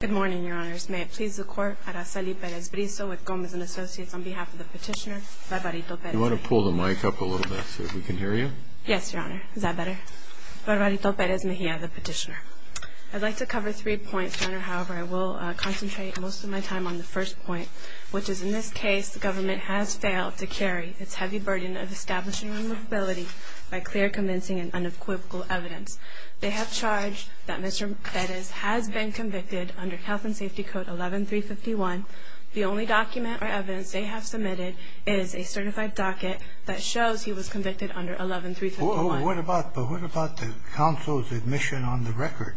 Good morning, Your Honors. May it please the Court, Araceli Perez-Briso with Gomez & Associates on behalf of the petitioner, Barbarito Perez-Mejia. Do you want to pull the mic up a little bit so we can hear you? Yes, Your Honor. Is that better? Barbarito Perez-Mejia, the petitioner. I'd like to cover three points, Your Honor. However, I will concentrate most of my time on the first point, which is in this case, the government has failed to carry its heavy burden of establishing removability by clear, convincing, and unequivocal evidence. They have charged that Mr. Perez has been convicted under Health and Safety Code 11351. The only document or evidence they have submitted is a certified docket that shows he was convicted under 11351. But what about the counsel's admission on the record?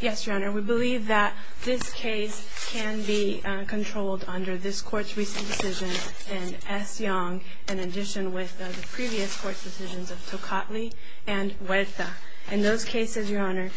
Yes, Your Honor. We believe that this case can be controlled under this Court's recent decision and S. Young, in addition with the previous Court's decisions of Tocatli and Huerta. In those cases, Your Honor,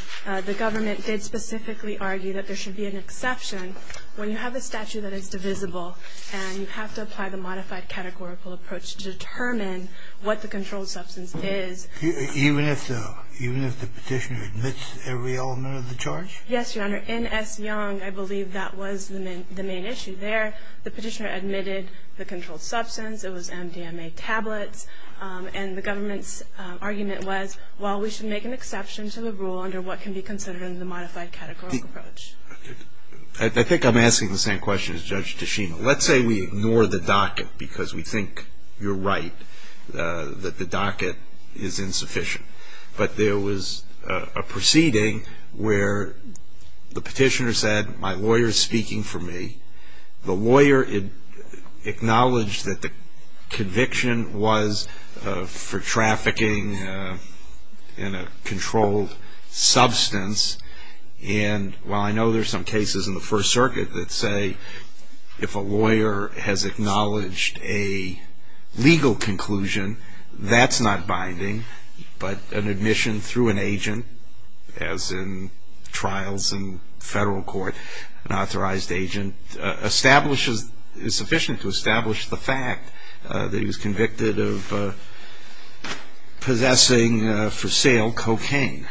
the government did specifically argue that there should be an exception when you have a statute that is divisible and you have to apply the modified categorical approach to determine what the controlled substance is. Even if the petitioner admits every element of the charge? Yes, Your Honor. In S. Young, I believe that was the main issue there. The petitioner admitted the controlled substance. It was MDMA tablets. And the government's argument was, well, we should make an exception to the rule under what can be considered the modified categorical approach. I think I'm asking the same question as Judge Tachino. Let's say we ignore the docket because we think you're right, that the docket is insufficient. But there was a proceeding where the petitioner said, my lawyer is speaking for me. The lawyer acknowledged that the conviction was for trafficking in a controlled substance. And while I know there are some cases in the First Circuit that say if a lawyer has acknowledged a legal conclusion, that's not binding. But an admission through an agent, as in trials in federal court, an authorized agent, is sufficient to establish the fact that he was convicted of possessing, for sale, cocaine.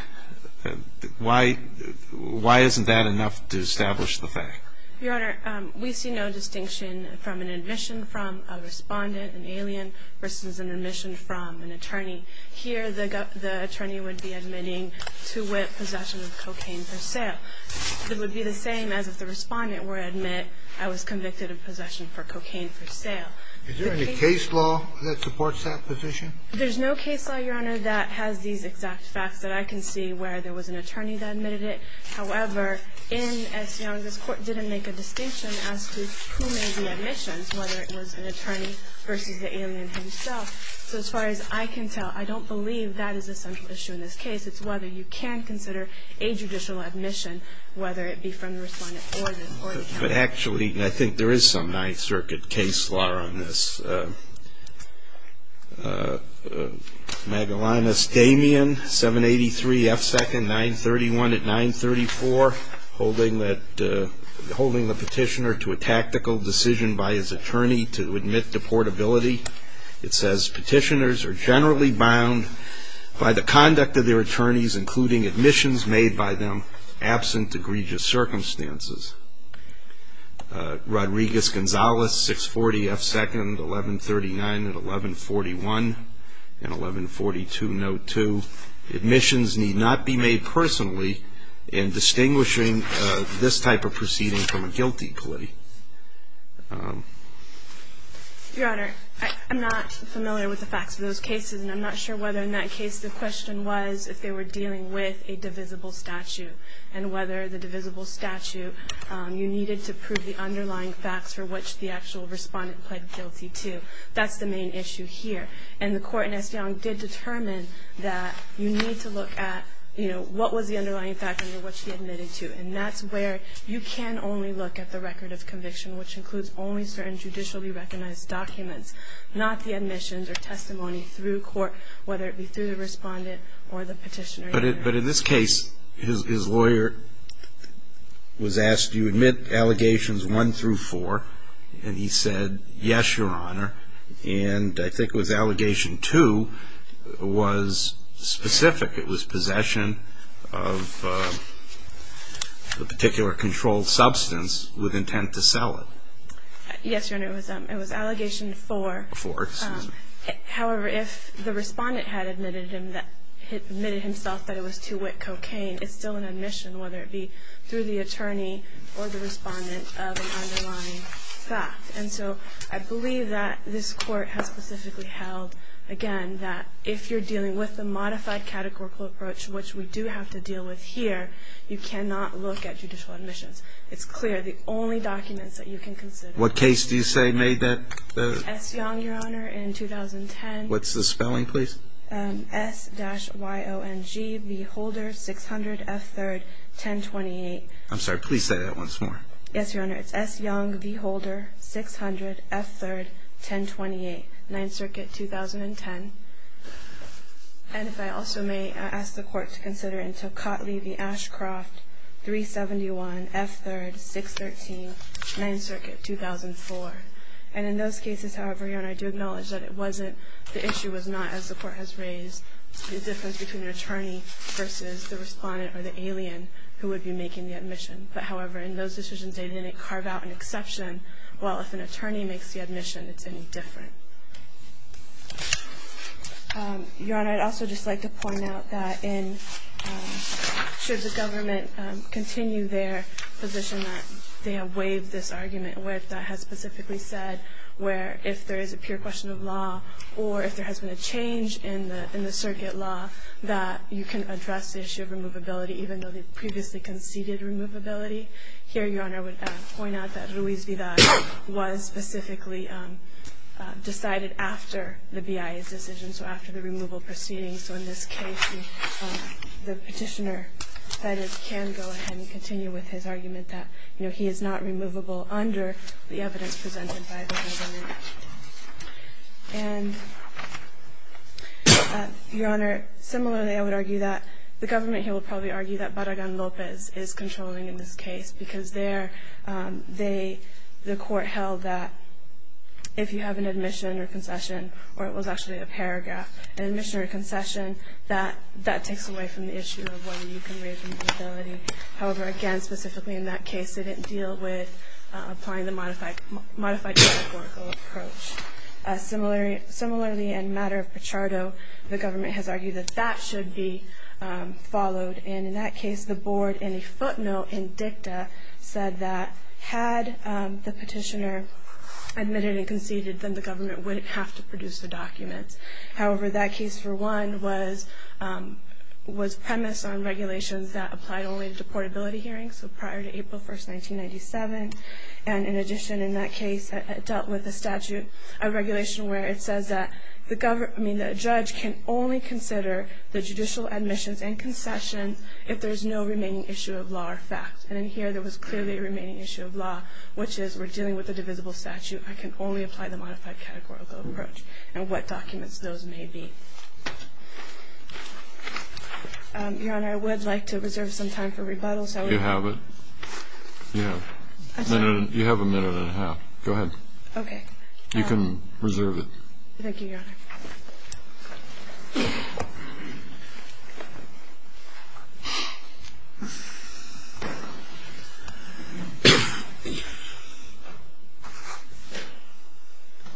Why isn't that enough to establish the fact? Your Honor, we see no distinction from an admission from a respondent, an alien, versus an admission from an attorney. Here, the attorney would be admitting to possession of cocaine for sale. It would be the same as if the respondent were to admit, I was convicted of possession of cocaine for sale. Is there any case law that supports that position? There's no case law, Your Honor, that has these exact facts that I can see where there was an attorney that admitted it. However, in S. Young, this Court didn't make a distinction as to who made the admissions, whether it was an attorney versus the alien himself. So as far as I can tell, I don't believe that is a central issue in this case. It's whether you can consider a judicial admission, whether it be from the respondent or the county. But actually, I think there is some Ninth Circuit case law on this. Magellanus Damian, 783 F. 2nd, 931 at 934, holding the petitioner to a tactical decision by his attorney to admit to portability. It says, Petitioners are generally bound by the conduct of their attorneys, including admissions made by them absent egregious circumstances. Rodriguez-Gonzalez, 640 F. 2nd, 1139 at 1141 and 1142 Note 2. Admissions need not be made personally in distinguishing this type of proceeding from a guilty plea. Your Honor, I'm not familiar with the facts of those cases, and I'm not sure whether in that case the question was if they were dealing with a divisible statute and whether the divisible statute, you needed to prove the underlying facts for which the actual respondent pled guilty to. That's the main issue here. And the Court in Esfand did determine that you need to look at, you know, what was the underlying fact under which he admitted to. And that's where you can only look at the record of conviction, which includes only certain judicially recognized documents, not the admissions or testimony through court, whether it be through the respondent or the petitioner. But in this case, his lawyer was asked, do you admit allegations one through four? And he said, yes, Your Honor. And I think it was allegation two was specific. It was possession of a particular controlled substance with intent to sell it. Yes, Your Honor, it was allegation four. Four, excuse me. However, if the respondent had admitted himself that it was two-wit cocaine, it's still an admission, whether it be through the attorney or the respondent, of an underlying fact. And so I believe that this Court has specifically held, again, that if you're dealing with a modified categorical approach, which we do have to deal with here, you cannot look at judicial admissions. It's clear. The only documents that you can consider. What case do you say made that? S. Young, Your Honor, in 2010. What's the spelling, please? S-Y-O-N-G, V. Holder, 600 F. 3rd, 1028. I'm sorry. Please say that once more. Yes, Your Honor. It's S. Young, V. Holder, 600 F. 3rd, 1028, 9th Circuit, 2010. And if I also may ask the Court to consider into Cotley v. Ashcroft, 371 F. 3rd, 613, 9th Circuit, 2004. And in those cases, however, Your Honor, I do acknowledge that it wasn't, the issue was not, as the Court has raised, the difference between an attorney versus the respondent or the alien who would be making the admission. But, however, in those decisions, they didn't carve out an exception. Well, if an attorney makes the admission, it's any different. Your Honor, I'd also just like to point out that in, should the government continue their position that they have waived this where, if there is a pure question of law, or if there has been a change in the circuit law, that you can address the issue of removability, even though they previously conceded removability. Here, Your Honor, I would point out that Ruiz Vidal was specifically decided after the BIA's decision, so after the removal proceedings. So in this case, the Petitioner can go ahead and continue with his argument that he is not removable under the evidence presented by the government. And, Your Honor, similarly, I would argue that the government here would probably argue that Barragan-Lopez is controlling in this case, because there, they, the Court held that if you have an admission or concession, or it was actually a paragraph, an admission or concession, that that takes away from the issue of whether you can waive removability. However, again, specifically in that case, it didn't deal with applying the modified categorical approach. Similarly, in the matter of Pichardo, the government has argued that that should be followed. And in that case, the Board, in a footnote in dicta, said that had the Petitioner admitted and conceded, then the government wouldn't have to produce the documents. However, that case, for one, was premised on regulations that applied only to deportability hearings, so prior to April 1, 1997. And in addition, in that case, it dealt with a statute, a regulation, where it says that the judge can only consider the judicial admissions and concession if there is no remaining issue of law or fact. And in here, there was clearly a remaining issue of law, which is we're dealing with a divisible statute. I can only apply the modified categorical approach, and what documents those may be. Your Honor, I would like to reserve some time for rebuttal. You have it. Yeah. You have a minute and a half. Go ahead. Okay. You can reserve it. Thank you, Your Honor. Thank you.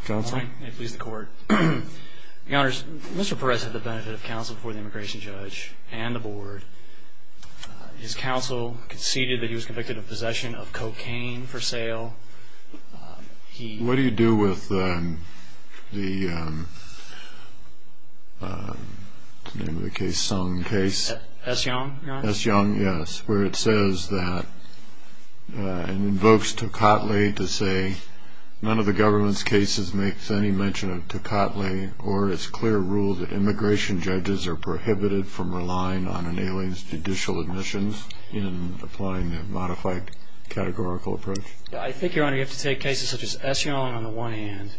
Counsel? May it please the Court. Your Honors, Mr. Perez had the benefit of counsel before the immigration judge and the board. His counsel conceded that he was convicted of possession of cocaine for sale. What do you do with the, what's the name of the case, Sung case? S. Young, Your Honor. S. Young, yes, where it says that and invokes Tocatli to say, none of the government's cases makes any mention of Tocatli or its clear rule that immigration judges are prohibited from relying on an alien's judicial admissions in applying the modified categorical approach? I think, Your Honor, you have to take cases such as S. Young on the one hand.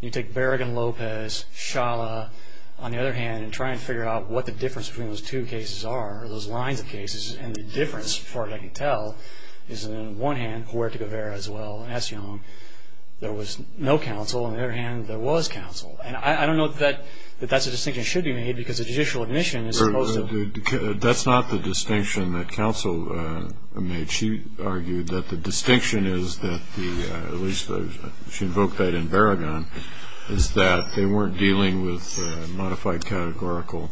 You take Berrigan-Lopez, Shala on the other hand and try and figure out what the difference between those two cases are, those lines of cases, and the difference, as far as I can tell, is that on the one hand, Huerta-Guevara as well, and S. Young, there was no counsel. On the other hand, there was counsel. And I don't know that that's a distinction that should be made because a judicial admission is supposed to. That's not the distinction that counsel made. She argued that the distinction is that the, at least she invoked that in Berrigan, is that they weren't dealing with a modified categorical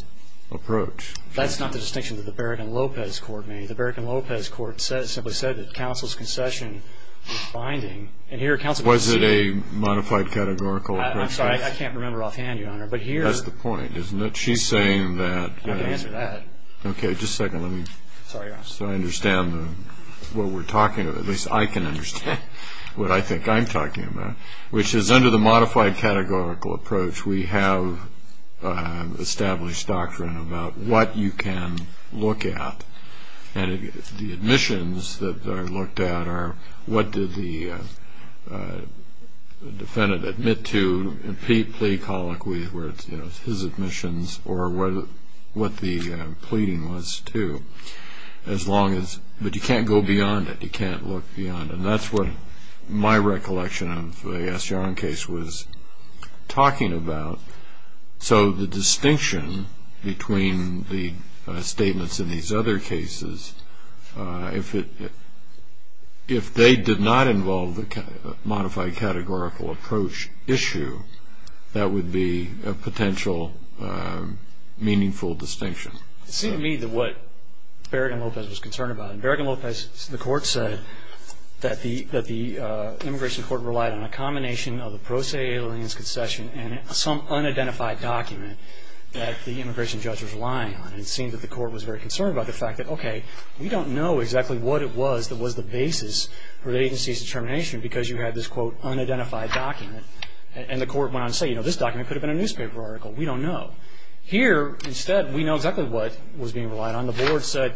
approach. That's not the distinction that the Berrigan-Lopez court made. The Berrigan-Lopez court simply said that counsel's concession was binding. And here counsel can see. Was it a modified categorical approach? I'm sorry. I can't remember offhand, Your Honor. But here. That's the point, isn't it? She's saying that. I can answer that. Okay. Just a second. So I understand what we're talking about. At least I can understand what I think I'm talking about, which is under the modified categorical approach we have established doctrine about what you can look at. And the admissions that are looked at are what did the defendant admit to, where it's his admissions or what the pleading was to. But you can't go beyond it. You can't look beyond it. And that's what my recollection of the S. Yarn case was talking about. So the distinction between the statements in these other cases, if they did not involve the modified categorical approach issue, that would be a potential meaningful distinction. It seemed to me that what Berrigan-Lopez was concerned about, and Berrigan-Lopez, the court said, that the immigration court relied on a combination of the pro se alien's concession and some unidentified document that the immigration judge was relying on. It seemed that the court was very concerned about the fact that, okay, we don't know exactly what it was that was the basis for the agency's determination because you had this, quote, unidentified document. And the court went on to say, you know, this document could have been a newspaper article. We don't know. Here, instead, we know exactly what was being relied on. The board said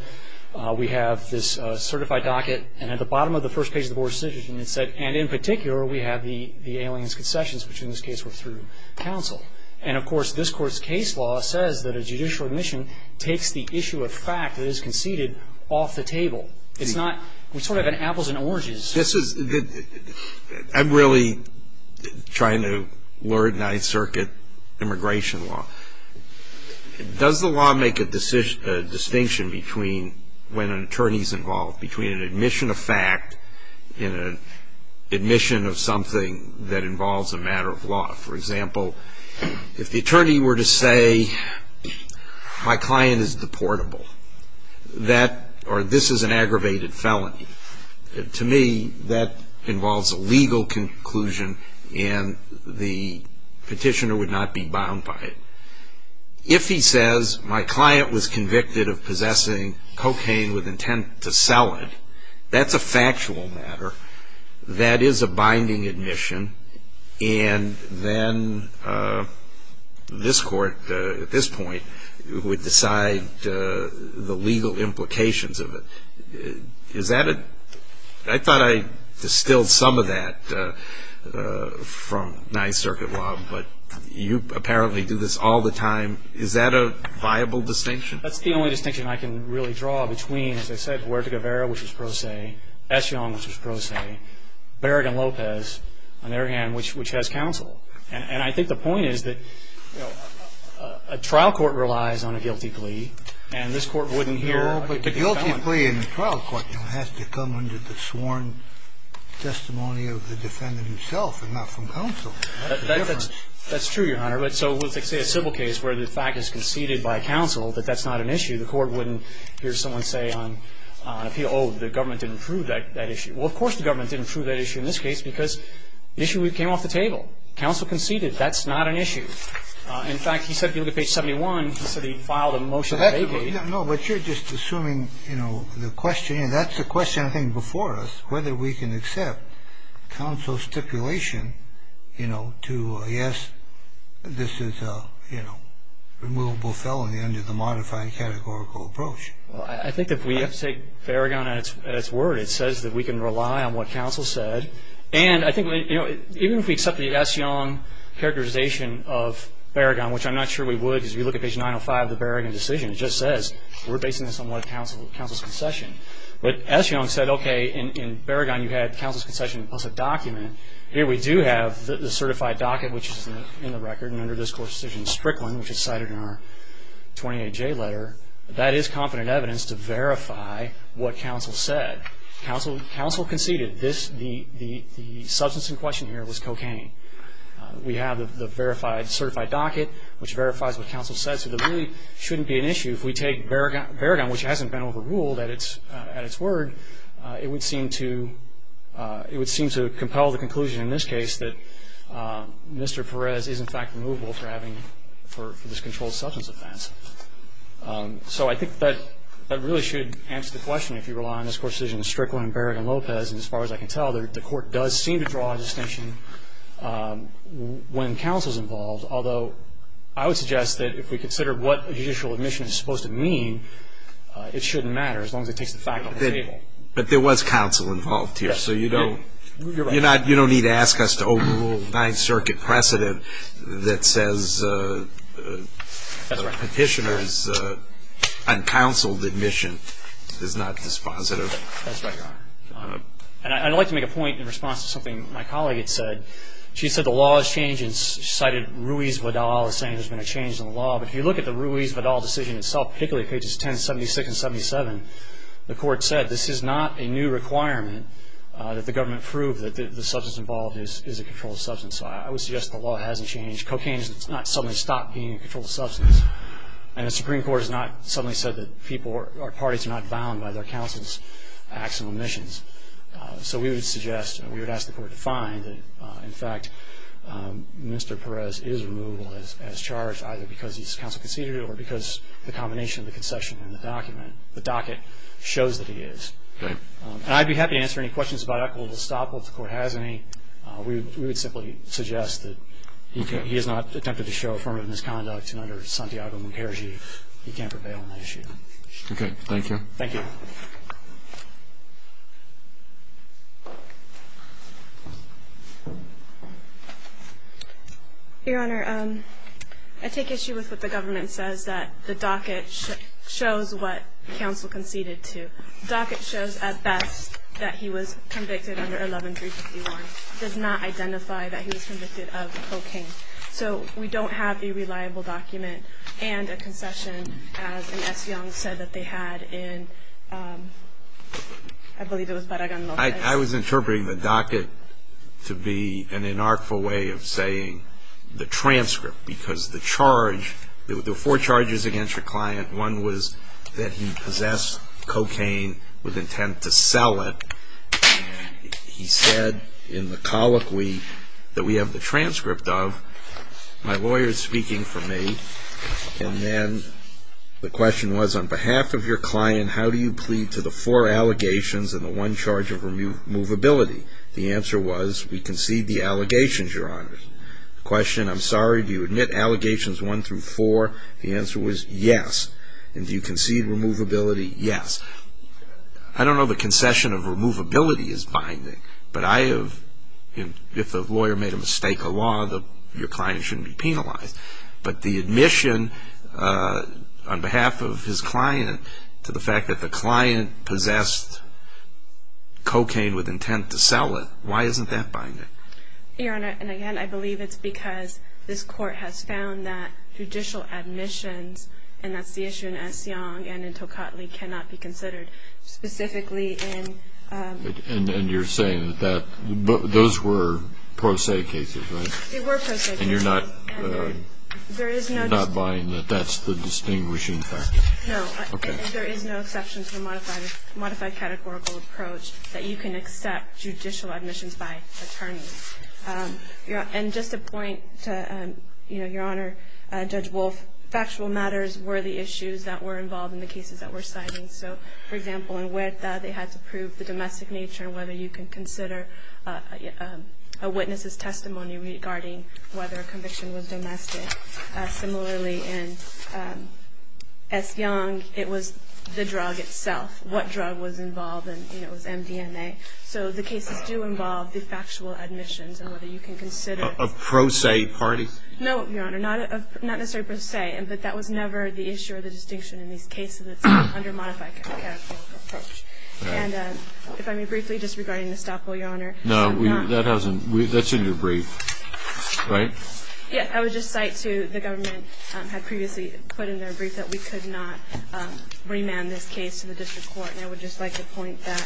we have this certified docket. And at the bottom of the first page of the board's decision it said, and in particular we have the alien's concessions, which in this case were through counsel. And, of course, this court's case law says that a judicial admission takes the issue of fact that is conceded off the table. It's not, we sort of have apples and oranges. This is, I'm really trying to learn Ninth Circuit immigration law. Does the law make a distinction between when an attorney's involved, between an admission of fact and an admission of something that involves a matter of law? For example, if the attorney were to say my client is deportable or this is an aggravated felony, to me that involves a legal conclusion and the petitioner would not be bound by it. If he says my client was convicted of possessing cocaine with intent to sell it, that's a factual matter. That is a binding admission. And then this court at this point would decide the legal implications of it. Is that a, I thought I distilled some of that from Ninth Circuit law, but you apparently do this all the time. Is that a viable distinction? That's the only distinction I can really draw between, as I said, Huerta-Guevara, which is pro se, S. Young, which is pro se, Berrigan-Lopez, on their hand, which has counsel. And I think the point is that a trial court relies on a guilty plea, and this court wouldn't hear the defendant. But the guilty plea in the trial court has to come under the sworn testimony of the defendant himself and not from counsel. That's true, Your Honor. So let's say a civil case where the fact is conceded by counsel that that's not an issue, the court wouldn't hear someone say on appeal, oh, the government didn't approve that issue. Well, of course the government didn't approve that issue in this case because the issue came off the table. Counsel conceded that's not an issue. In fact, he said, if you look at page 71, he said he filed a motion to vacate. No, but you're just assuming, you know, the question, and that's the question I think before us, whether we can accept counsel's stipulation, you know, to, yes, this is a, you know, removable felony under the modified categorical approach. Well, I think if we take Berrigan at its word, it says that we can rely on what counsel said. And I think, you know, even if we accept the S. Young characterization of Berrigan, which I'm not sure we would because if you look at page 905 of the Berrigan decision, it just says we're basing this on what counsel's concession. But S. Young said, okay, in Berrigan you had counsel's concession plus a document. Here we do have the certified docket, which is in the record, and under this court's decision, Strickland, which is cited in our 28J letter, that is confident evidence to verify what counsel said. Counsel conceded this, the substance in question here was cocaine. We have the verified, certified docket, which verifies what counsel said. So there really shouldn't be an issue if we take Berrigan, which hasn't been overruled at its word. It would seem to compel the conclusion in this case that Mr. Perez is, in fact, removable for this controlled substance offense. So I think that really should answer the question if you rely on this court's decision, Strickland, Berrigan, Lopez. And as far as I can tell, the court does seem to draw a distinction when counsel's involved. Although, I would suggest that if we consider what judicial admission is supposed to mean, it shouldn't matter as long as it takes the fact off the table. But there was counsel involved here. Yes. So you don't need to ask us to overrule a Ninth Circuit precedent that says the petitioner's uncounseled admission is not dispositive. That's right, Your Honor. And I'd like to make a point in response to something my colleague had said. She said the law has changed and cited Ruiz-Vidal as saying there's been a change in the law. But if you look at the Ruiz-Vidal decision itself, particularly pages 1076 and 1077, the court said this is not a new requirement that the government prove that the substance involved is a controlled substance. So I would suggest the law hasn't changed. Cocaine has not suddenly stopped being a controlled substance. And the Supreme Court has not suddenly said that people or parties are not bound by their counsel's acts and omissions. So we would suggest and we would ask the court to find that, in fact, Mr. Perez is removable as charged either because he's counsel conceded or because the combination of the concession and the docket shows that he is. Right. And I'd be happy to answer any questions about equitable estoppel if the court has any. We would simply suggest that he has not attempted to show affirmative misconduct, and under Santiago-Munkerji, he can't prevail on that issue. Okay. Thank you. Thank you. Your Honor, I take issue with what the government says that the docket shows what counsel conceded to. The docket shows at best that he was convicted under 11351. It does not identify that he was convicted of cocaine. So we don't have a reliable document and a concession, as Ms. Young said that they had in, I believe it was Paragon Lopez. I was interpreting the docket to be an inartful way of saying the transcript because the charge, there were four charges against your client. One was that he possessed cocaine with intent to sell it. He said in the colloquy that we have the transcript of, my lawyer is speaking for me, and then the question was on behalf of your client, how do you plead to the four allegations and the one charge of removability? The answer was we concede the allegations, Your Honor. The question, I'm sorry, do you admit allegations one through four? The answer was yes. And do you concede removability? Yes. I don't know the concession of removability is binding, but if a lawyer made a mistake of law, your client shouldn't be penalized. But the admission on behalf of his client to the fact that the client possessed cocaine with intent to sell it, why isn't that binding? Your Honor, and again, I believe it's because this Court has found that judicial admissions, and that's the issue in Essiong and in Tocatli, cannot be considered, specifically in. And you're saying that those were pro se cases, right? They were pro se cases. And you're not buying that that's the distinguishing factor? No. Okay. And there is no exception to the modified categorical approach that you can accept judicial admissions by attorneys. And just a point, Your Honor, Judge Wolf, factual matters were the issues that were involved in the cases that were cited. So, for example, in Huerta, they had to prove the domestic nature and whether you can consider a witness's testimony regarding whether a conviction was domestic. Similarly, in Essiong, it was the drug itself, what drug was involved, and it was MDMA. So the cases do involve the factual admissions and whether you can consider. Of pro se parties? No, Your Honor, not necessarily pro se, but that was never the issue or the distinction in these cases that's under modified categorical approach. And if I may briefly, just regarding Estoppo, Your Honor. No, that's in your brief, right? Yes. I would just cite to the government had previously put in their brief that we could not remand this case to the district court. And I would just like to point that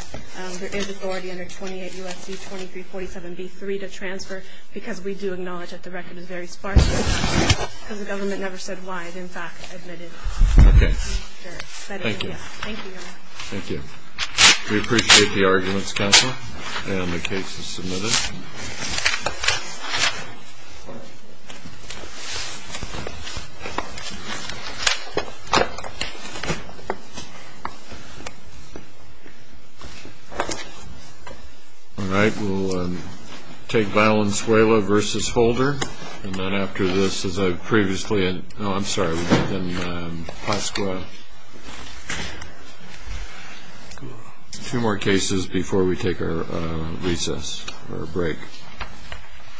there is authority under 28 U.S.C. 2347b-3 to transfer because we do acknowledge that the record is very sparse because the government never said why it, in fact, admitted. Okay. Thank you. Thank you, Your Honor. Thank you. We appreciate the arguments, counsel, and the case is submitted. All right. We'll take Valenzuela v. Holder. And then after this, as I previously had, no, I'm sorry, Pasqua. Two more cases before we take our recess or break.